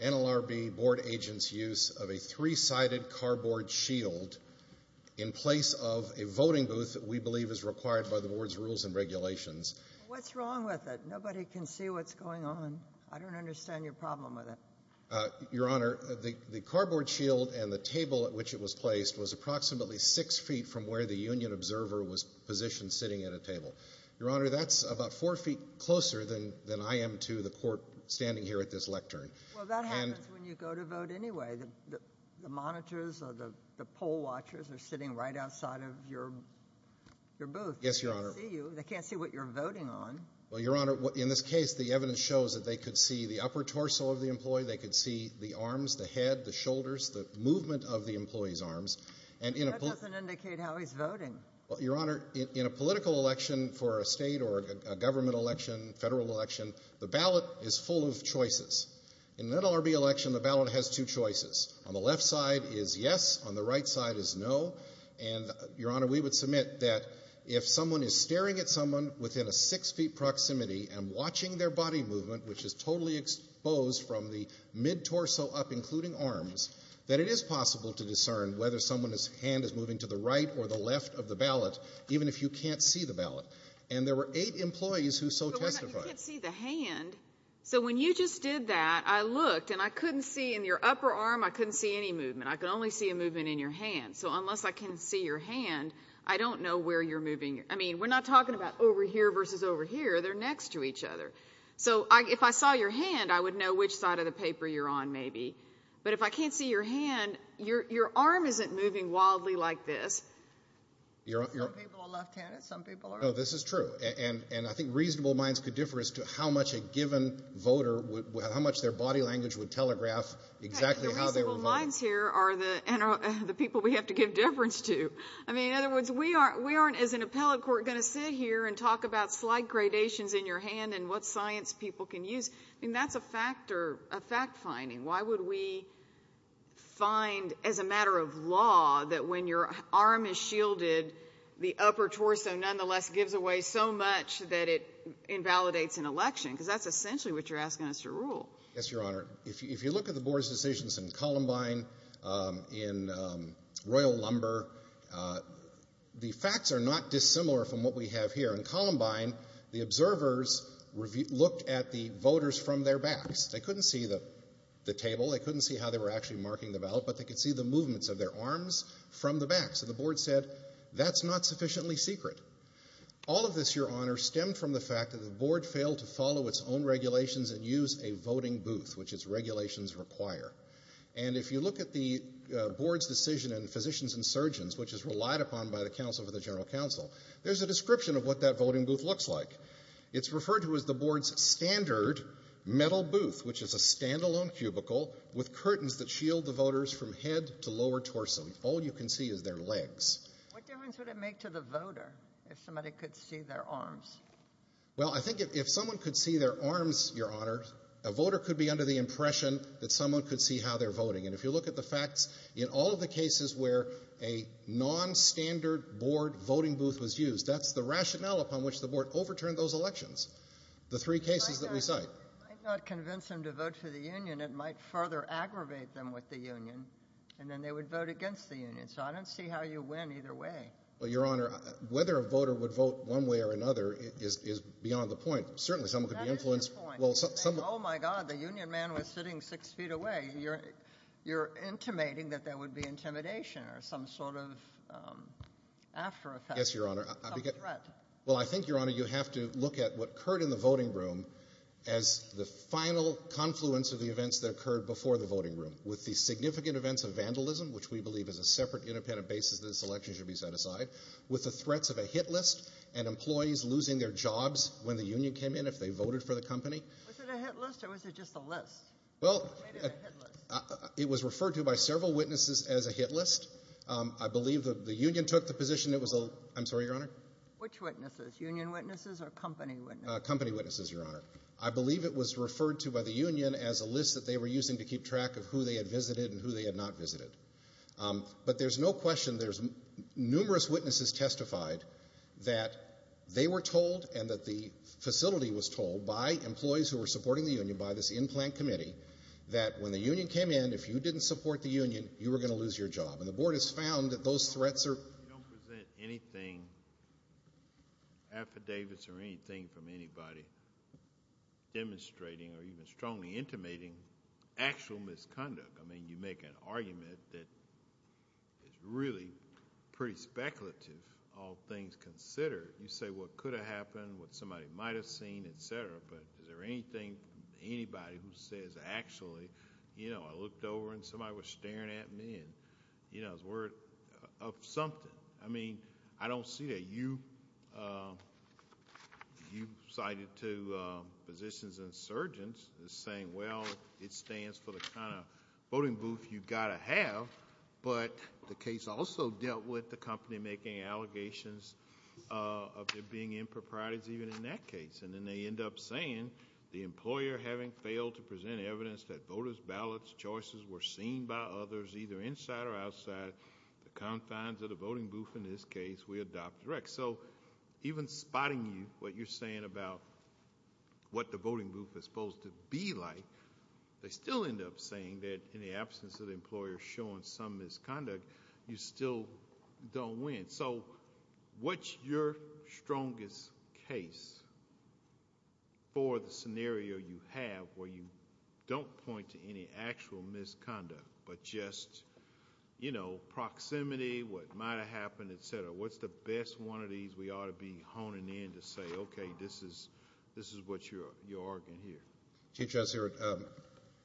NLRB Board Agents Use of a Three-Sided Cardboard Shield in Place of a Voting Your both. Yes, Your Honor. They can't see you. They can't see what you're voting on. Well, Your Honor, in this case, the evidence shows that they could see the upper torso of the employee. They could see the arms, the head, the shoulders, the movement of the employee's arms. That doesn't indicate how he's voting. Well, Your Honor, in a political election for a state or a government election, federal election, the ballot is full of choices. In an NLRB election, the ballot has two choices. On the left side is yes. On the right side is no. And, Your Honor, we would submit that if someone is staring at someone within a six-feet proximity and watching their body movement, which is totally exposed from the mid-torso up, including arms, that it is possible to discern whether someone's hand is moving to the right or the left of the ballot, even if you can't see the ballot. And there were eight employees who so testified. But you can't see the hand. So when you just did that, I looked, and I couldn't see in your upper arm, I couldn't see any movement. I could only see a movement in your hand. So unless I can see your hand, I don't know where you're moving. I mean, we're not talking about over here versus over here. They're next to each other. So if I saw your hand, I would know which side of the paper you're on maybe. But if I can't see your hand, your arm isn't moving wildly like this. Some people are left-handed. Some people are right-handed. No, this is true. And I think reasonable minds could differ as to how much a given voter, how much their body language would telegraph exactly how they were voting. But the blinds here are the people we have to give deference to. I mean, in other words, we aren't as an appellate court going to sit here and talk about slight gradations in your hand and what science people can use. I mean, that's a fact finding. Why would we find as a matter of law that when your arm is shielded, the upper torso nonetheless gives away so much that it invalidates an election? Because that's essentially what you're asking us to rule. Yes, Your Honor. If you look at the Board's decisions in Columbine, in Royal Lumber, the facts are not dissimilar from what we have here. In Columbine, the observers looked at the voters from their backs. They couldn't see the table. They couldn't see how they were actually marking the ballot, but they could see the movements of their arms from the back. So the Board said, that's not sufficiently secret. All of this, Your Honor, stemmed from the fact that the Board failed to follow its own regulations and use a voting booth, which its regulations require. And if you look at the Board's decision in Physicians and Surgeons, which is relied upon by the Council for the General Counsel, there's a description of what that voting booth looks like. It's referred to as the Board's standard metal booth, which is a standalone cubicle with curtains that shield the voters from head to lower torso. All you can see is their legs. What difference would it make to the voter if somebody could see their arms? Well, I think if someone could see their arms, Your Honor, a voter could be under the impression that someone could see how they're voting. And if you look at the facts, in all of the cases where a nonstandard Board voting booth was used, that's the rationale upon which the Board overturned those elections, the three cases that we cite. It might not convince them to vote for the union. It might further aggravate them with the union, and then they would vote against the union. So I don't see how you win either way. Well, Your Honor, whether a voter would vote one way or another is beyond the point. Certainly someone could be influenced. That is the point. Oh, my God, the union man was sitting six feet away. You're intimating that there would be intimidation or some sort of after effect, some threat. Yes, Your Honor. Well, I think, Your Honor, you have to look at what occurred in the voting room as the final confluence of the events that occurred before the voting room, with the significant events of vandalism, which we believe is a separate independent basis that this election should be set aside, with the threats of a hit list and employees losing their jobs when the union came in if they voted for the company. Was it a hit list or was it just a list? Well, it was referred to by several witnesses as a hit list. I believe the union took the position it was a – I'm sorry, Your Honor? Which witnesses, union witnesses or company witnesses? Company witnesses, Your Honor. I believe it was referred to by the union as a list that they were using to keep track of who they had visited and who they had not visited. But there's no question there's numerous witnesses testified that they were told and that the facility was told by employees who were supporting the union, by this in-plant committee, that when the union came in, if you didn't support the union, you were going to lose your job. And the Board has found that those threats are – We don't present anything, affidavits or anything, from anybody demonstrating or even strongly intimating actual misconduct. I mean, you make an argument that is really pretty speculative, all things considered. You say what could have happened, what somebody might have seen, et cetera, but is there anything, anybody who says, actually, you know, I looked over and somebody was staring at me and, you know, it was word of something. I mean, I don't see that you cited to physicians and surgeons as saying, well, it stands for the kind of voting booth you've got to have, but the case also dealt with the company making allegations of there being improprieties even in that case. And then they end up saying, the employer having failed to present evidence that voters' ballots, choices were seen by others, either inside or outside the confines of the voting booth, in this case, we adopt direct. So even spotting you, what you're saying about what the voting booth is supposed to be like, they still end up saying that in the absence of the employer showing some misconduct, you still don't win. So what's your strongest case for the scenario you have where you don't point to any actual misconduct, but just, you know, proximity, what might have happened, et cetera. What's the best one of these we ought to be honing in to say, okay, this is what you're arguing here?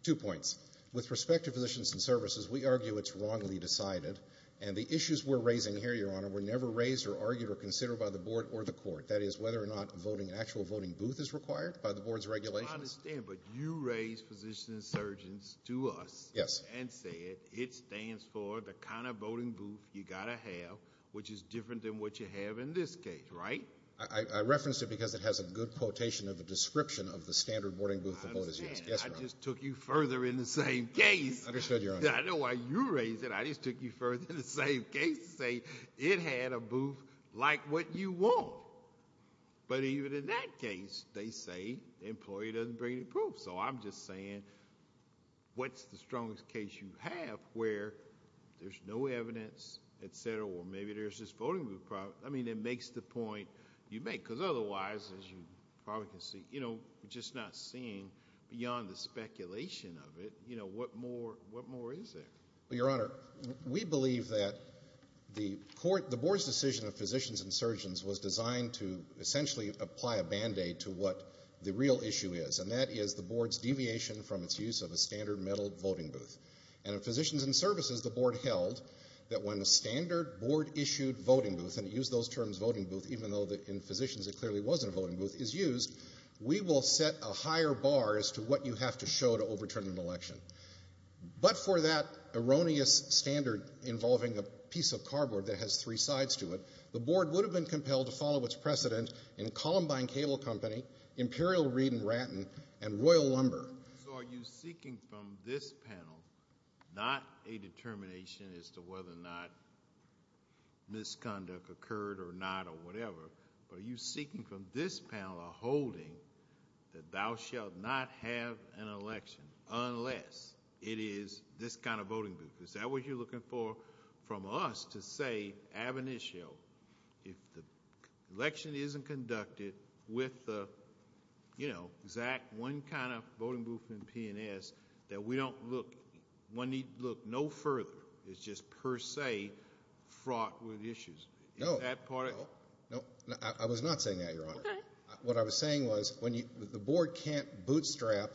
Two points. With respect to physicians and services, we argue it's wrongly decided, and the issues we're raising here, Your Honor, were never raised or argued or considered by the board or the court. That is, whether or not an actual voting booth is required by the board's regulations. I understand, but you raised physicians and surgeons to us and said, it stands for the kind of voting booth you've got to have, which is different than what you have in this case, right? I referenced it because it has a good quotation of a description of the standard voting booth the board has used. Yes, Your Honor. I understand. I just took you further in the same case. Understood, Your Honor. I know why you raised it. I just took you further in the same case to say it had a booth like what you want. But even in that case, they say the employee doesn't bring any proof. So I'm just saying what's the strongest case you have where there's no evidence, et cetera, or maybe there's this voting booth problem. I mean, it makes the point you make because otherwise, as you probably can see, you're just not seeing beyond the speculation of it what more is there. Your Honor, we believe that the board's decision of physicians and surgeons was designed to essentially apply a band-aid to what the real issue is, and that is the board's deviation from its use of a standard metal voting booth. And in Physicians and Services, the board held that when a standard board-issued voting booth, and it used those terms, voting booth, even though in Physicians it clearly wasn't a voting booth, is used, we will set a higher bar as to what you have to show to overturn an election. But for that erroneous standard involving a piece of cardboard that has three sides to it, the board would have been compelled to follow its precedent in Columbine Cable Company, Imperial Reed and Rattan, and Royal Lumber. So are you seeking from this panel not a determination as to whether or not misconduct occurred or not or whatever, but are you seeking from this panel a holding that thou shalt not have an election unless it is this kind of voting booth? Is that what you're looking for from us to say, ab initio, if the election isn't conducted with the, you know, exact one kind of voting booth in P&S, that we don't look, one need look no further as just per se fraught with issues? No. Is that part of it? No. I was not saying that, Your Honor. Okay. What I was saying was when you, the board can't bootstrap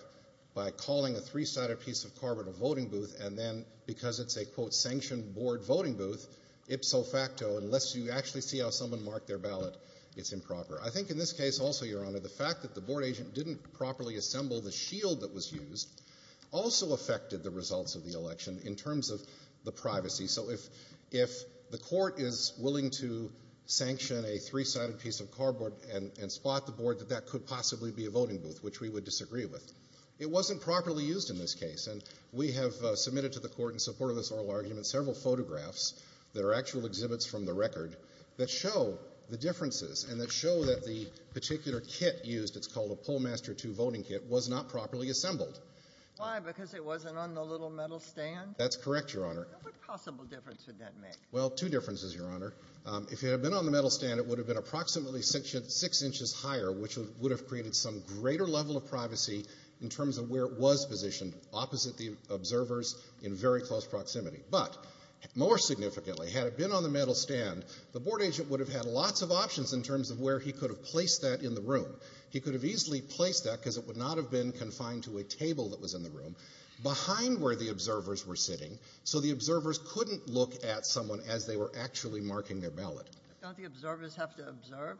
by calling a three-sided piece of cardboard a voting booth and then because it's a, quote, sanctioned board voting booth, ipso facto, unless you actually see how someone marked their ballot, it's improper. I think in this case also, Your Honor, the fact that the board agent didn't properly assemble the shield that was used also affected the results of the election in terms of the privacy. So if the court is willing to sanction a three-sided piece of cardboard and spot the board, that that could possibly be a voting booth, which we would disagree with. It wasn't properly used in this case, and we have submitted to the court in support of this oral argument several photographs that are actual exhibits from the record that show the differences and that show that the particular kit used, it's called a Pollmaster II voting kit, was not properly assembled. Why? Because it wasn't on the little metal stand? That's correct, Your Honor. What possible difference would that make? Well, two differences, Your Honor. If it had been on the metal stand, it would have been approximately six inches higher, which would have created some greater level of privacy in terms of where it was positioned opposite the observers in very close proximity. But more significantly, had it been on the metal stand, the board agent would have had lots of options in terms of where he could have placed that in the room. He could have easily placed that because it would not have been confined to a table that was in the room behind where the observers were sitting, so the observers couldn't look at someone as they were actually marking their ballot. Don't the observers have to observe?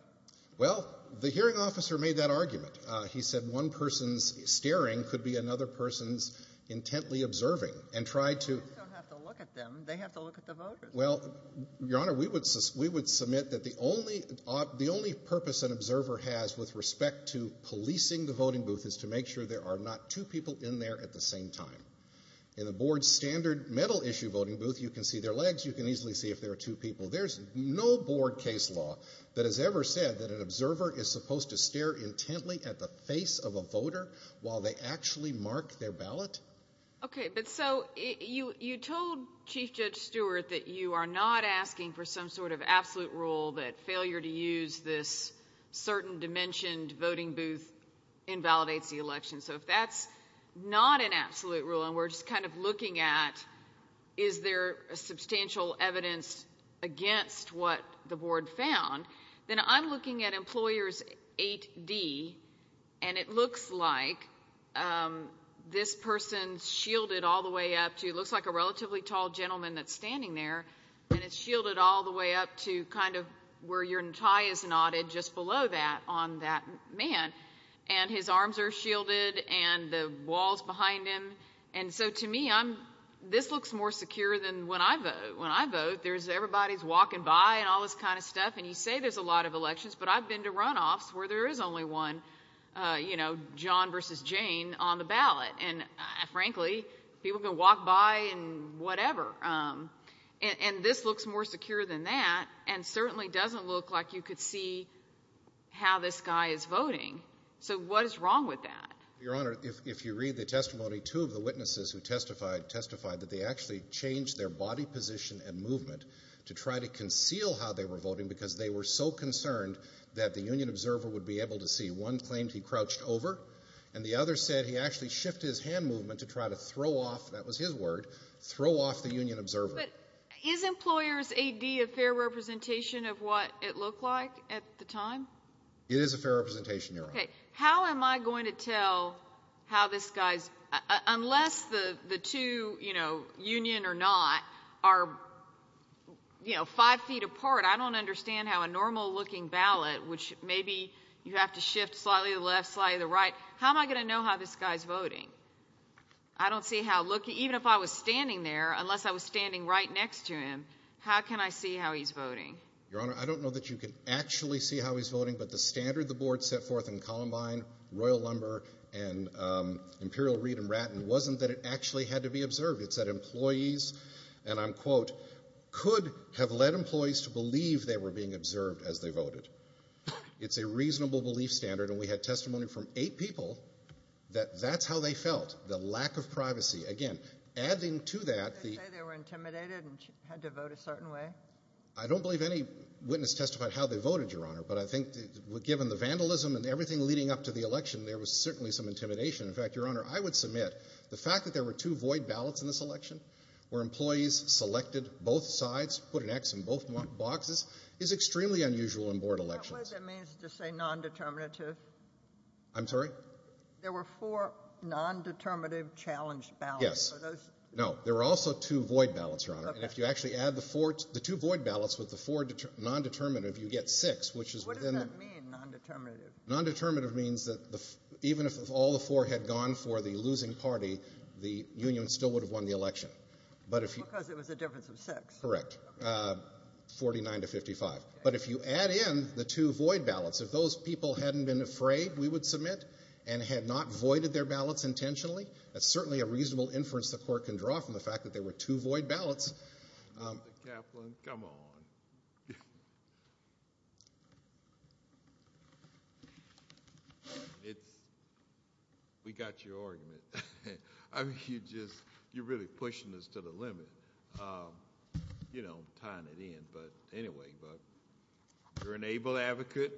Well, the hearing officer made that argument. He said one person's staring could be another person's intently observing, and tried to— The observers don't have to look at them. They have to look at the voters. Well, Your Honor, we would submit that the only purpose an observer has with respect to policing the voting booth is to make sure there are not two people in there at the same time. In the board's standard metal issue voting booth, you can see their legs. You can easily see if there are two people. There's no board case law that has ever said that an observer is supposed to stare intently at the face of a voter while they actually mark their ballot. Okay, but so you told Chief Judge Stewart that you are not asking for some sort of absolute rule that failure to use this certain dimensioned voting booth invalidates the election. So if that's not an absolute rule, and we're just kind of looking at is there substantial evidence against what the board found, then I'm looking at Employers 8D, and it looks like this person's shielded all the way up to— it looks like a relatively tall gentleman that's standing there, and it's shielded all the way up to kind of where your tie is knotted just below that on that man, and his arms are shielded and the wall's behind him. And so to me, this looks more secure than when I vote. When I vote, everybody's walking by and all this kind of stuff, and you say there's a lot of elections, but I've been to runoffs where there is only one, you know, John versus Jane on the ballot, and frankly, people can walk by and whatever. And this looks more secure than that and certainly doesn't look like you could see how this guy is voting. So what is wrong with that? Your Honor, if you read the testimony, two of the witnesses who testified testified that they actually changed their body position and movement to try to conceal how they were voting because they were so concerned that the union observer would be able to see. One claimed he crouched over, and the other said he actually shifted his hand movement to try to throw off—that was his word—throw off the union observer. But is Employer's A.D. a fair representation of what it looked like at the time? It is a fair representation, Your Honor. Okay. How am I going to tell how this guy's— unless the two, you know, union or not, are, you know, five feet apart, I don't understand how a normal-looking ballot, which maybe you have to shift slightly to the left, slightly to the right, how am I going to know how this guy's voting? I don't see how—even if I was standing there, unless I was standing right next to him, how can I see how he's voting? Your Honor, I don't know that you can actually see how he's voting, but the standard the board set forth in Columbine, Royal Lumber, and Imperial Reed and Ratton wasn't that it actually had to be observed. It said employees, and I'm quote, could have led employees to believe they were being observed as they voted. It's a reasonable belief standard, and we had testimony from eight people that that's how they felt, the lack of privacy. Again, adding to that— Did they say they were intimidated and had to vote a certain way? I don't believe any witness testified how they voted, Your Honor, but I think given the vandalism and everything leading up to the election, there was certainly some intimidation. In fact, Your Honor, I would submit the fact that there were two void ballots in this election where employees selected both sides, put an X in both boxes, is extremely unusual in board elections. What does that mean to say nondeterminative? I'm sorry? There were four nondeterminative challenge ballots. Yes. No, there were also two void ballots, Your Honor, and if you actually add the two void ballots with the four nondeterminative, you get six, which is within— What does that mean, nondeterminative? Nondeterminative means that even if all the four had gone for the losing party, the union still would have won the election. Because it was a difference of six. Correct. Okay. 49 to 55. But if you add in the two void ballots, if those people hadn't been afraid, we would submit, and had not voided their ballots intentionally, that's certainly a reasonable inference the court can draw from the fact that there were two void ballots. Mr. Kaplan, come on. We got your argument. You're really pushing this to the limit, tying it in. Anyway, you're an able advocate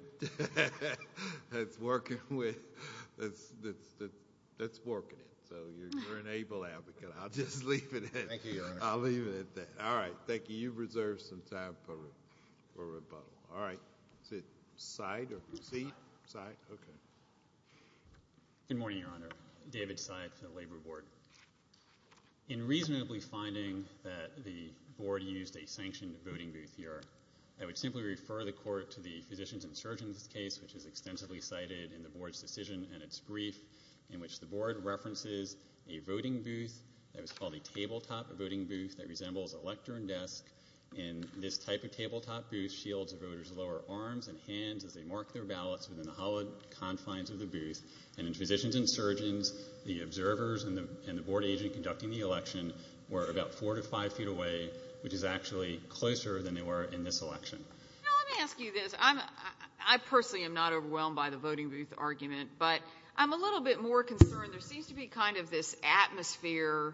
that's working it. You're an able advocate. I'll just leave it at that. Thank you, Your Honor. I'll leave it at that. All right. Thank you. You've reserved some time for rebuttal. All right. Is it side or proceed? Side? Okay. Good morning, Your Honor. David Seid from the Labor Board. In reasonably finding that the board used a sanctioned voting booth here, I would simply refer the court to the Physicians and Surgeons case, which is extensively cited in the board's decision and its brief, in which the board references a voting booth that was called a tabletop voting booth that resembles a lectern desk. In this type of tabletop booth, shields of voters lower arms and hands as they mark their ballots within the hollowed confines of the booth. And in Physicians and Surgeons, the observers and the board agent conducting the election were about four to five feet away, which is actually closer than they were in this election. Now, let me ask you this. I personally am not overwhelmed by the voting booth argument, but I'm a little bit more concerned. There seems to be kind of this atmosphere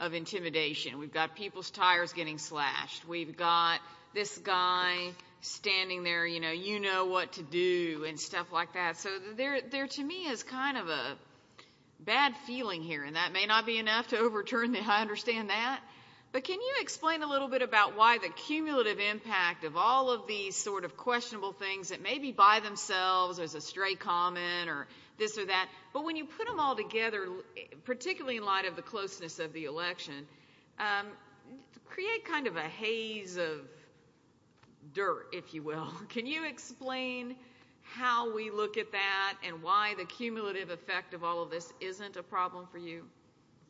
of intimidation. We've got people's tires getting slashed. We've got this guy standing there, you know, you know what to do and stuff like that. So there to me is kind of a bad feeling here, and that may not be enough to overturn it. I understand that. But can you explain a little bit about why the cumulative impact of all of these sort of questionable things that may be by themselves as a stray comment or this or that, but when you put them all together, particularly in light of the closeness of the election, create kind of a haze of dirt, if you will. Can you explain how we look at that and why the cumulative effect of all of this isn't a problem for you?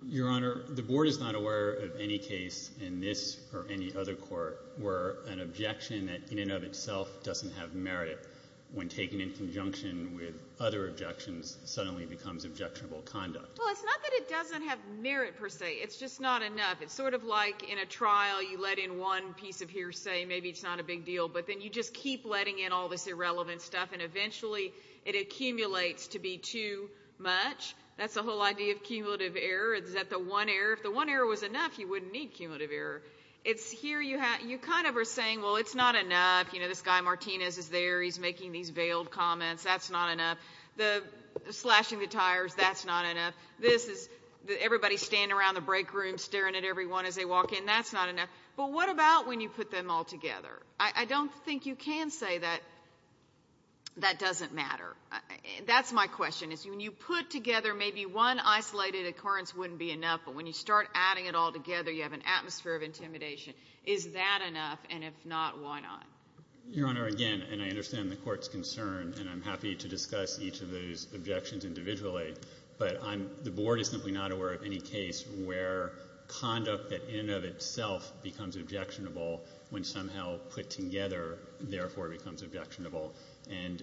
Your Honor, the board is not aware of any case in this or any other court where an objection that in and of itself doesn't have merit, when taken in conjunction with other objections, suddenly becomes objectionable conduct. Well, it's not that it doesn't have merit, per se. It's just not enough. It's sort of like in a trial you let in one piece of hearsay, maybe it's not a big deal, but then you just keep letting in all this irrelevant stuff, and eventually it accumulates to be too much. That's the whole idea of cumulative error is that the one error, if the one error was enough, you wouldn't need cumulative error. It's here you kind of are saying, well, it's not enough. You know, this guy Martinez is there. He's making these veiled comments. That's not enough. Slashing the tires, that's not enough. Everybody's standing around the break room staring at everyone as they walk in. That's not enough. But what about when you put them all together? I don't think you can say that that doesn't matter. That's my question. When you put together maybe one isolated occurrence wouldn't be enough, but when you start adding it all together, you have an atmosphere of intimidation. Is that enough? And if not, why not? Your Honor, again, and I understand the court's concern, and I'm happy to discuss each of those objections individually, but the Board is simply not aware of any case where conduct that in and of itself becomes objectionable when somehow put together, therefore, becomes objectionable. And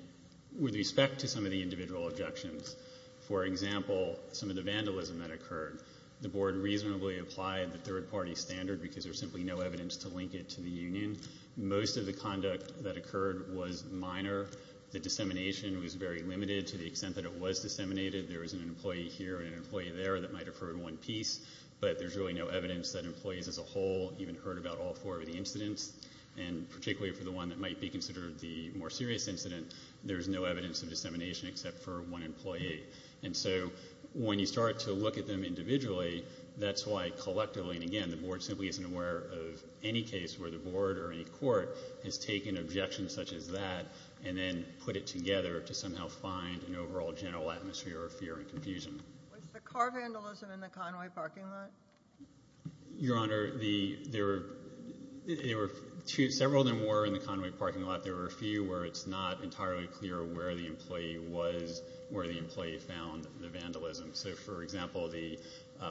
with respect to some of the individual objections, for example, some of the vandalism that occurred, the Board reasonably applied the third-party standard because there's simply no evidence to link it to the union. Most of the conduct that occurred was minor. The dissemination was very limited to the extent that it was disseminated. There was an employee here and an employee there that might have heard one piece, but there's really no evidence that employees as a whole even heard about all four of the incidents, and particularly for the one that might be considered the more serious incident, there's no evidence of dissemination except for one employee. And so when you start to look at them individually, that's why collectively, and again, the Board simply isn't aware of any case where the Board or any court has taken objections such as that and then put it together to somehow find an overall general atmosphere of fear and confusion. Was the car vandalism in the Conway parking lot? Your Honor, there were several of them were in the Conway parking lot. There were a few where it's not entirely clear where the employee was, where the employee found the vandalism. So, for example, the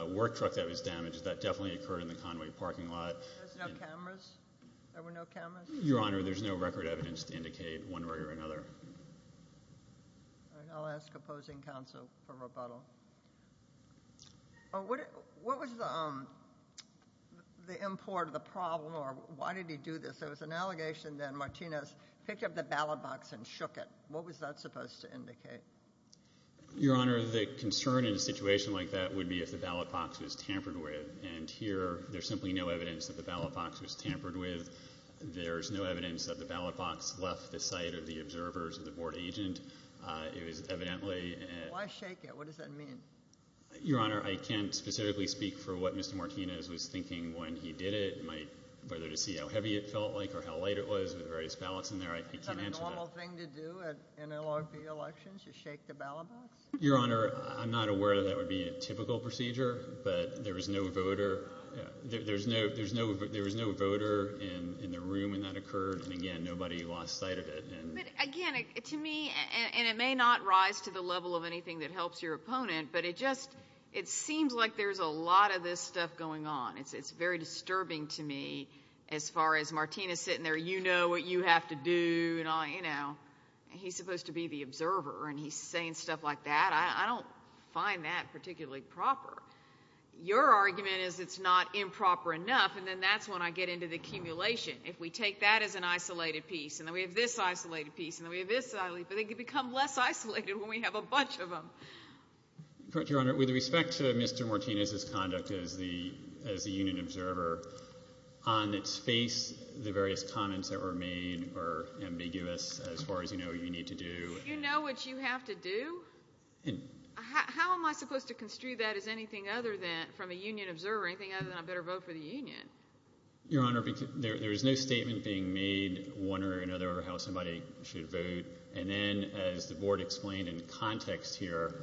work truck that was damaged, that definitely occurred in the Conway parking lot. There were no cameras? Your Honor, there's no record evidence to indicate one way or another. I'll ask opposing counsel for rebuttal. What was the import of the problem, or why did he do this? There was an allegation that Martinez picked up the ballot box and shook it. What was that supposed to indicate? Your Honor, the concern in a situation like that would be if the ballot box was tampered with, and here there's simply no evidence that the ballot box was tampered with. There's no evidence that the ballot box left the sight of the observers or the board agent. It was evidently— Why shake it? What does that mean? Your Honor, I can't specifically speak for what Mr. Martinez was thinking when he did it. Whether to see how heavy it felt like or how light it was with the various ballots in there, I can't answer that. Is that a normal thing to do in LRP elections, to shake the ballot box? Your Honor, I'm not aware that that would be a typical procedure, but there was no voter in the room when that occurred, and, again, nobody lost sight of it. But, again, to me—and it may not rise to the level of anything that helps your opponent, but it just—it seems like there's a lot of this stuff going on. It's very disturbing to me as far as Martinez sitting there, you know what you have to do, and he's supposed to be the observer, and he's saying stuff like that. I don't find that particularly proper. Your argument is it's not improper enough, and then that's when I get into the accumulation. If we take that as an isolated piece, and then we have this isolated piece, and then we have this isolated piece, but it can become less isolated when we have a bunch of them. Your Honor, with respect to Mr. Martinez's conduct as the union observer, on its face, the various comments that were made were ambiguous as far as you know what you need to do. You know what you have to do? How am I supposed to construe that as anything other than—from a union observer, anything other than I better vote for the union? Your Honor, there is no statement being made, one way or another, how somebody should vote. And then, as the Board explained in context here,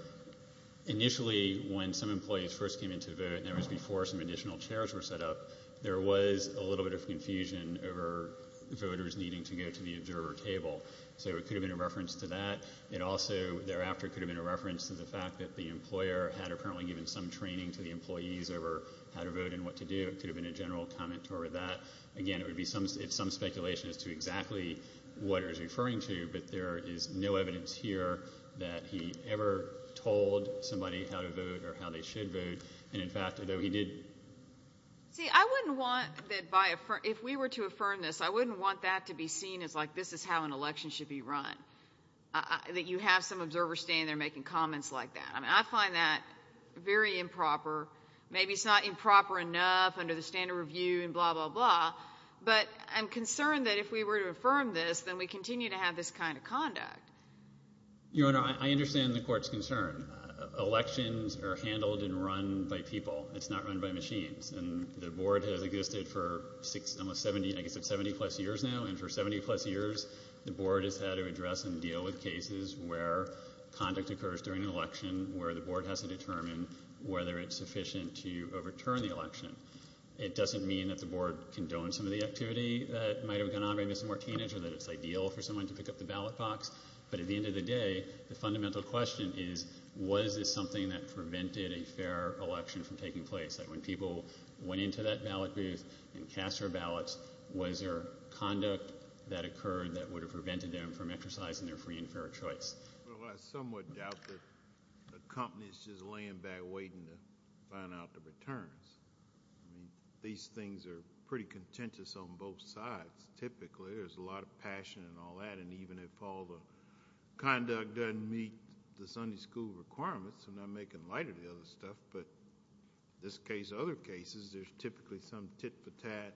initially when some employees first came in to vote, and that was before some additional chairs were set up, there was a little bit of confusion over voters needing to go to the observer table. So it could have been a reference to that. It also thereafter could have been a reference to the fact that the employer had apparently given some training to the employees over how to vote and what to do. It could have been a general comment toward that. Again, it would be some speculation as to exactly what it was referring to, but there is no evidence here that he ever told somebody how to vote or how they should vote. And, in fact, although he did— See, I wouldn't want that by—if we were to affirm this, I wouldn't want that to be seen as like this is how an election should be run, that you have some observer standing there making comments like that. I mean, I find that very improper. Maybe it's not improper enough under the standard review and blah, blah, blah, but I'm concerned that if we were to affirm this, then we continue to have this kind of conduct. Your Honor, I understand the Court's concern. Elections are handled and run by people. It's not run by machines. And the Board has existed for almost 70—I guess it's 70-plus years now. And for 70-plus years, the Board has had to address and deal with cases where conduct occurs during an election where the Board has to determine whether it's sufficient to overturn the election. It doesn't mean that the Board condones some of the activity that might have gone on by Ms. Martinez or that it's ideal for someone to pick up the ballot box, but at the end of the day, the fundamental question is, was this something that prevented a fair election from taking place, that when people went into that ballot booth and cast their ballots, was there conduct that occurred that would have prevented them from exercising their free and fair choice? Well, I somewhat doubt that the company is just laying back waiting to find out the returns. I mean, these things are pretty contentious on both sides. Typically, there's a lot of passion and all that, and even if all the conduct doesn't meet the Sunday school requirements, I'm not making light of the other stuff, but in this case and other cases, there's typically some tit-for-tat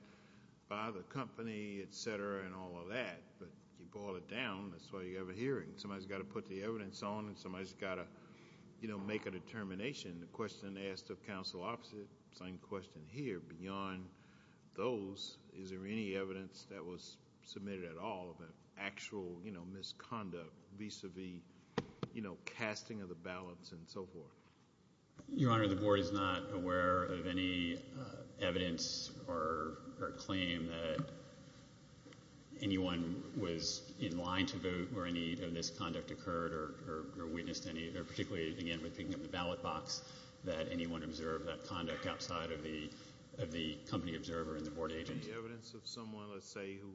by the company, et cetera, and all of that. But you boil it down, that's why you have a hearing. Somebody's got to put the evidence on, and somebody's got to make a determination. The question asked of counsel opposite, same question here. Beyond those, is there any evidence that was submitted at all of actual misconduct vis-à-vis casting of the ballots and so forth? Your Honor, the board is not aware of any evidence or claim that anyone was in line to vote where any of this conduct occurred or witnessed any, particularly, again, with picking up the ballot box, that anyone observed that conduct outside of the company observer and the board agent. Any evidence of someone, let's say, who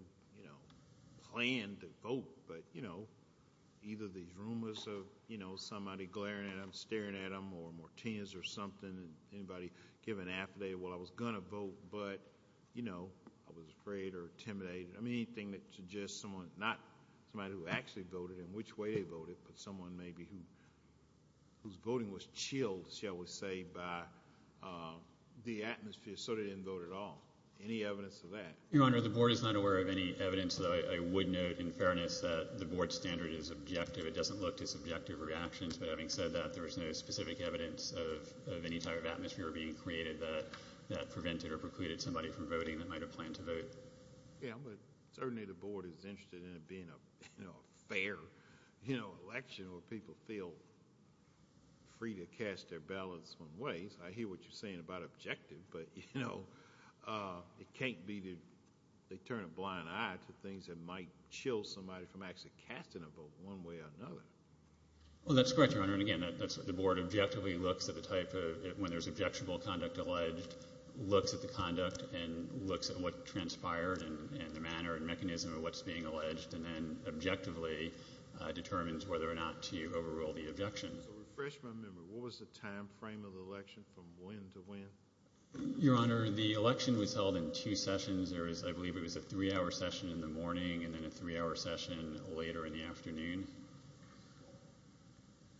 planned to vote, but either these rumors of somebody glaring at them, staring at them, or Martinez or something, and anybody giving affidavit, well, I was going to vote, but I was afraid or intimidated. I mean, anything that suggests someone, not somebody who actually voted and which way they voted, but someone maybe whose voting was chilled, shall we say, by the atmosphere, so they didn't vote at all. Any evidence of that? Your Honor, the board is not aware of any evidence. I would note, in fairness, that the board standard is objective. It doesn't look to subjective reactions, but having said that, there is no specific evidence of any type of atmosphere being created that prevented or precluded somebody from voting that might have planned to vote. Certainly, the board is interested in it being a fair election where people feel free to cast their ballots in ways. I hear what you're saying about objective, but it can't be that they turn a blind eye to things that might chill somebody from actually casting a vote one way or another. Well, that's correct, Your Honor. And, again, that's what the board objectively looks at the type of, when there's objectionable conduct alleged, looks at the conduct and looks at what transpired and the manner and mechanism of what's being alleged and then objectively determines whether or not to overrule the objection. So refresh my memory. What was the time frame of the election from when to when? Your Honor, the election was held in two sessions. There was, I believe, it was a three-hour session in the morning and then a three-hour session later in the afternoon.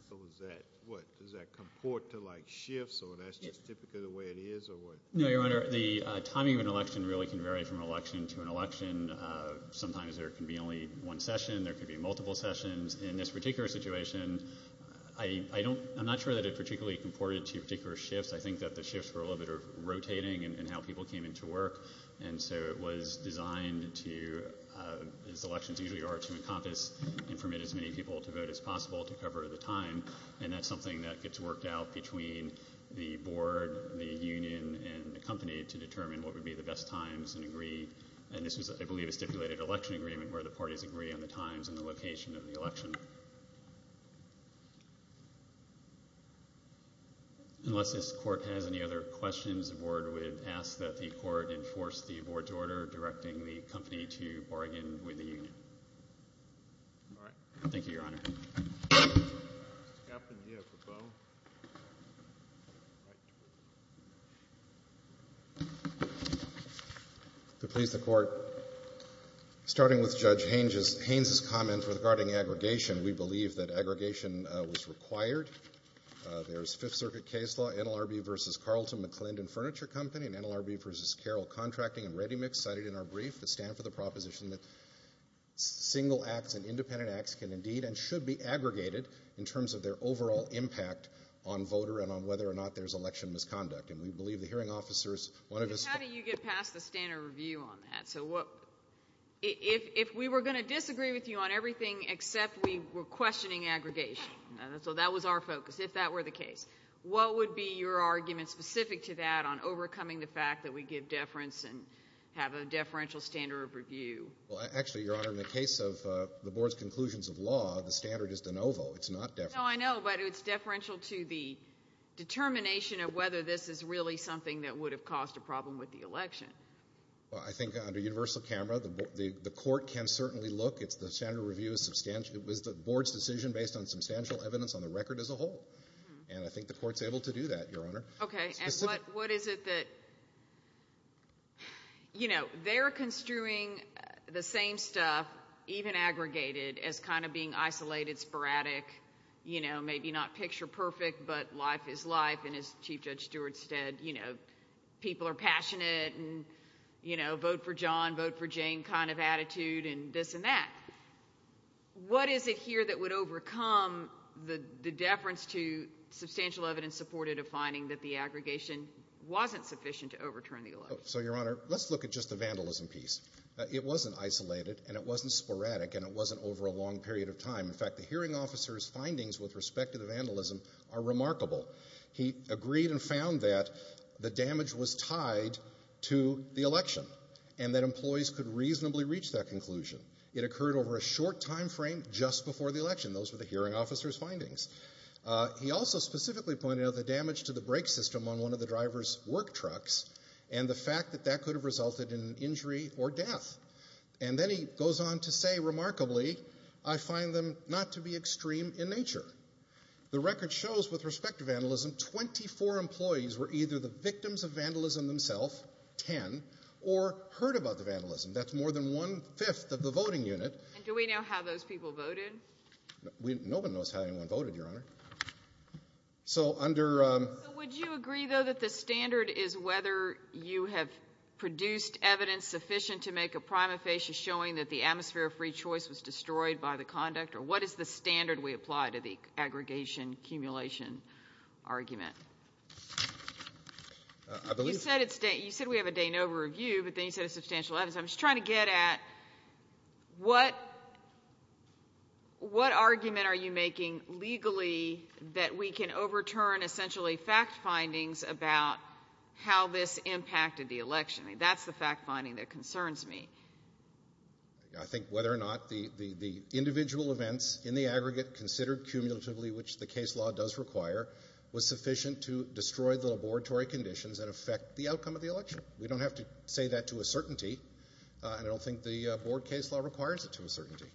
So is that, what, does that comport to, like, shifts, or that's just typically the way it is, or what? No, Your Honor. The timing of an election really can vary from election to an election. Sometimes there can be only one session. There could be multiple sessions. In this particular situation, I'm not sure that it particularly comported to particular shifts. I think that the shifts were a little bit rotating in how people came into work, and so it was designed to, as elections usually are, to encompass and permit as many people to vote as possible to cover the time, and that's something that gets worked out between the board, the union, and the company to determine what would be the best times and agree. And this was, I believe, a stipulated election agreement where the parties agree on the times and the location of the election. Unless this court has any other questions, the board would ask that the court enforce the board's order directing the company to bargain with the union. All right. Thank you, Your Honor. Captain, do you have a bow? To please the Court, starting with Judge Haynes's comment regarding aggregation, we believe that aggregation was required. There's Fifth Circuit case law, NLRB v. Carlton, McClendon Furniture Company, and NLRB v. Carroll Contracting and Ready Mix cited in our brief that stand for the proposition that single acts and independent acts can indeed and should be aggregated in terms of their overall impact on voter and on whether or not there's election misconduct. And we believe the hearing officers, one of us ---- How do you get past the standard review on that? So if we were going to disagree with you on everything except we were questioning aggregation, so that was our focus, if that were the case, what would be your argument specific to that on overcoming the fact that we give deference and have a deferential standard of review? Well, actually, Your Honor, in the case of the Board's conclusions of law, the standard is de novo. It's not deferential. No, I know, but it's deferential to the determination of whether this is really something that would have caused a problem with the election. Well, I think under universal camera, the Court can certainly look. It's the standard review. It was the Board's decision based on substantial evidence on the record as a whole. And I think the Court's able to do that, Your Honor. Okay. And what is it that, you know, they're construing the same stuff, even aggregated, as kind of being isolated, sporadic, you know, maybe not picture perfect, but life is life. And as Chief Judge Stewart said, you know, people are passionate and vote for John, vote for Jane kind of attitude and this and that. What is it here that would overcome the deference to substantial evidence supported a finding that the aggregation wasn't sufficient to overturn the election? So, Your Honor, let's look at just the vandalism piece. It wasn't isolated and it wasn't sporadic and it wasn't over a long period of time. In fact, the hearing officer's findings with respect to the vandalism are remarkable. He agreed and found that the damage was tied to the election and that employees could reasonably reach that conclusion. It occurred over a short time frame just before the election. Those were the hearing officer's findings. He also specifically pointed out the damage to the brake system on one of the driver's work trucks and the fact that that could have resulted in injury or death. And then he goes on to say, remarkably, I find them not to be extreme in nature. The record shows, with respect to vandalism, 24 employees were either the victims of vandalism themselves, 10, or heard about the vandalism. That's more than one-fifth of the voting unit. And do we know how those people voted? Nobody knows how anyone voted, Your Honor. So under... So would you agree, though, that the standard is whether you have produced evidence sufficient to make a prima facie showing that the atmosphere of free choice was destroyed by the conduct? Or what is the standard we apply to the aggregation-accumulation argument? I believe... You said we have a De Novo review, but then you said a substantial evidence. I'm just trying to get at what argument are you making legally that we can overturn essentially fact findings about how this impacted the election? That's the fact finding that concerns me. I think whether or not the individual events in the aggregate considered cumulatively, which the case law does require, was sufficient to destroy the laboratory conditions that affect the outcome of the election. We don't have to say that to a certainty, and I don't think the board case law requires it to a certainty.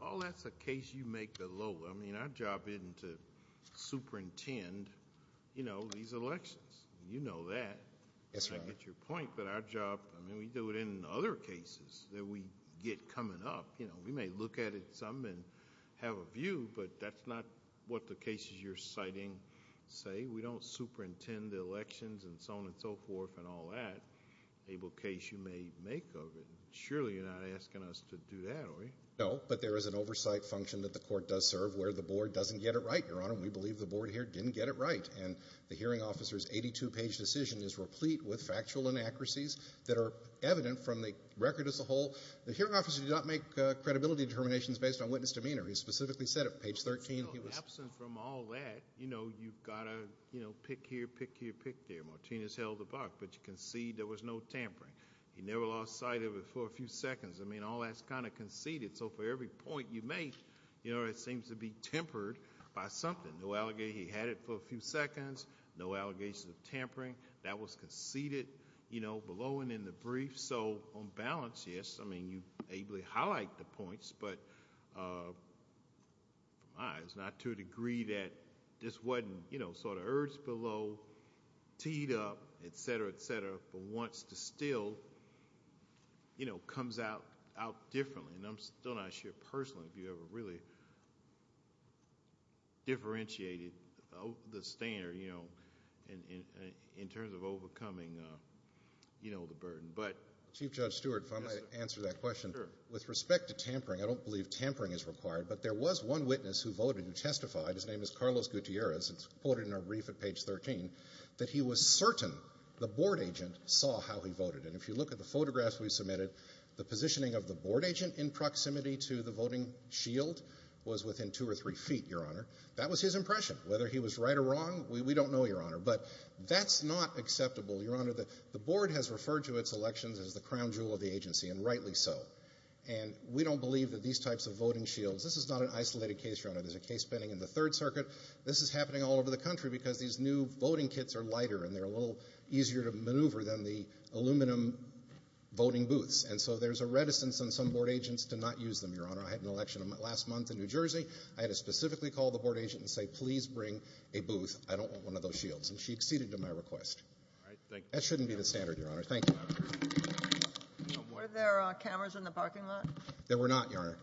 All that's a case you make below. I mean, our job isn't to superintend these elections. You know that. I get your point, but our job... I mean, we do it in other cases that we get coming up. We may look at it some and have a view, but that's not what the cases you're citing say. We don't superintend the elections and so on and so forth and all that. Able case you may make of it. Surely you're not asking us to do that, are you? No, but there is an oversight function that the court does serve where the board doesn't get it right, Your Honor. We believe the board here didn't get it right, and the hearing officer's 82-page decision is replete with factual inaccuracies that are evident from the record as a whole. The hearing officer did not make credibility determinations based on witness demeanor. He specifically said it on page 13. Absent from all that, you've got to pick here, pick here, pick there. Martinez held the buck, but you concede there was no tampering. He never lost sight of it for a few seconds. I mean, all that's kind of conceded. So for every point you make, it seems to be tempered by something. He had it for a few seconds, no allegations of tampering. That was conceded below and in the brief. But it's not to a degree that this wasn't sort of urged below, teed up, et cetera, et cetera, but still comes out differently. And I'm still not sure personally if you ever really differentiated the standard in terms of overcoming the burden. Chief Judge Stewart, if I may answer that question. Sure. With respect to tampering, I don't believe tampering is required, but there was one witness who voted who testified. His name is Carlos Gutierrez, and it's quoted in our brief at page 13, that he was certain the board agent saw how he voted. And if you look at the photographs we submitted, the positioning of the board agent in proximity to the voting shield was within two or three feet, Your Honor. That was his impression. Whether he was right or wrong, we don't know, Your Honor. But that's not acceptable, Your Honor. The board has referred to its elections as the crown jewel of the agency, and rightly so. And we don't believe that these types of voting shields, this is not an isolated case, Your Honor. There's a case pending in the Third Circuit. This is happening all over the country because these new voting kits are lighter and they're a little easier to maneuver than the aluminum voting booths. And so there's a reticence on some board agents to not use them, Your Honor. I had an election last month in New Jersey. I had to specifically call the board agent and say, please bring a booth. I don't want one of those shields. And she acceded to my request. That shouldn't be the standard, Your Honor. Thank you. Were there cameras in the parking lot? There were not, Your Honor.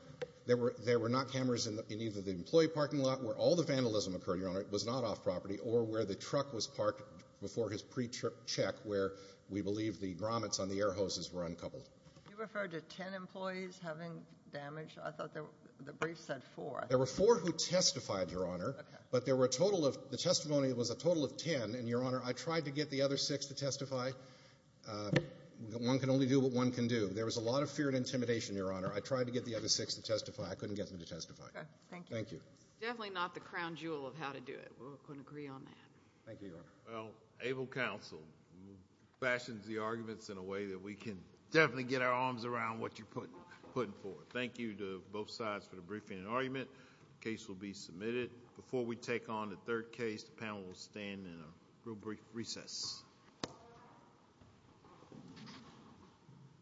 There were not cameras in either the employee parking lot, where all the vandalism occurred, Your Honor. It was not off property. Or where the truck was parked before his pre-check, where we believe the grommets on the air hoses were uncoupled. You referred to ten employees having damage. I thought the brief said four. There were four who testified, Your Honor. But there were a total of – the testimony was a total of ten. And, Your Honor, I tried to get the other six to testify. One can only do what one can do. There was a lot of fear and intimidation, Your Honor. I tried to get the other six to testify. I couldn't get them to testify. Okay. Thank you. Thank you. Definitely not the crown jewel of how to do it. I couldn't agree on that. Thank you, Your Honor. Well, ABLE counsel fashions the arguments in a way that we can definitely get our arms around what you're putting forth. Thank you to both sides for the briefing and argument. The case will be submitted. Before we take on the third case, the panel will stand in a real brief recess. Thank you.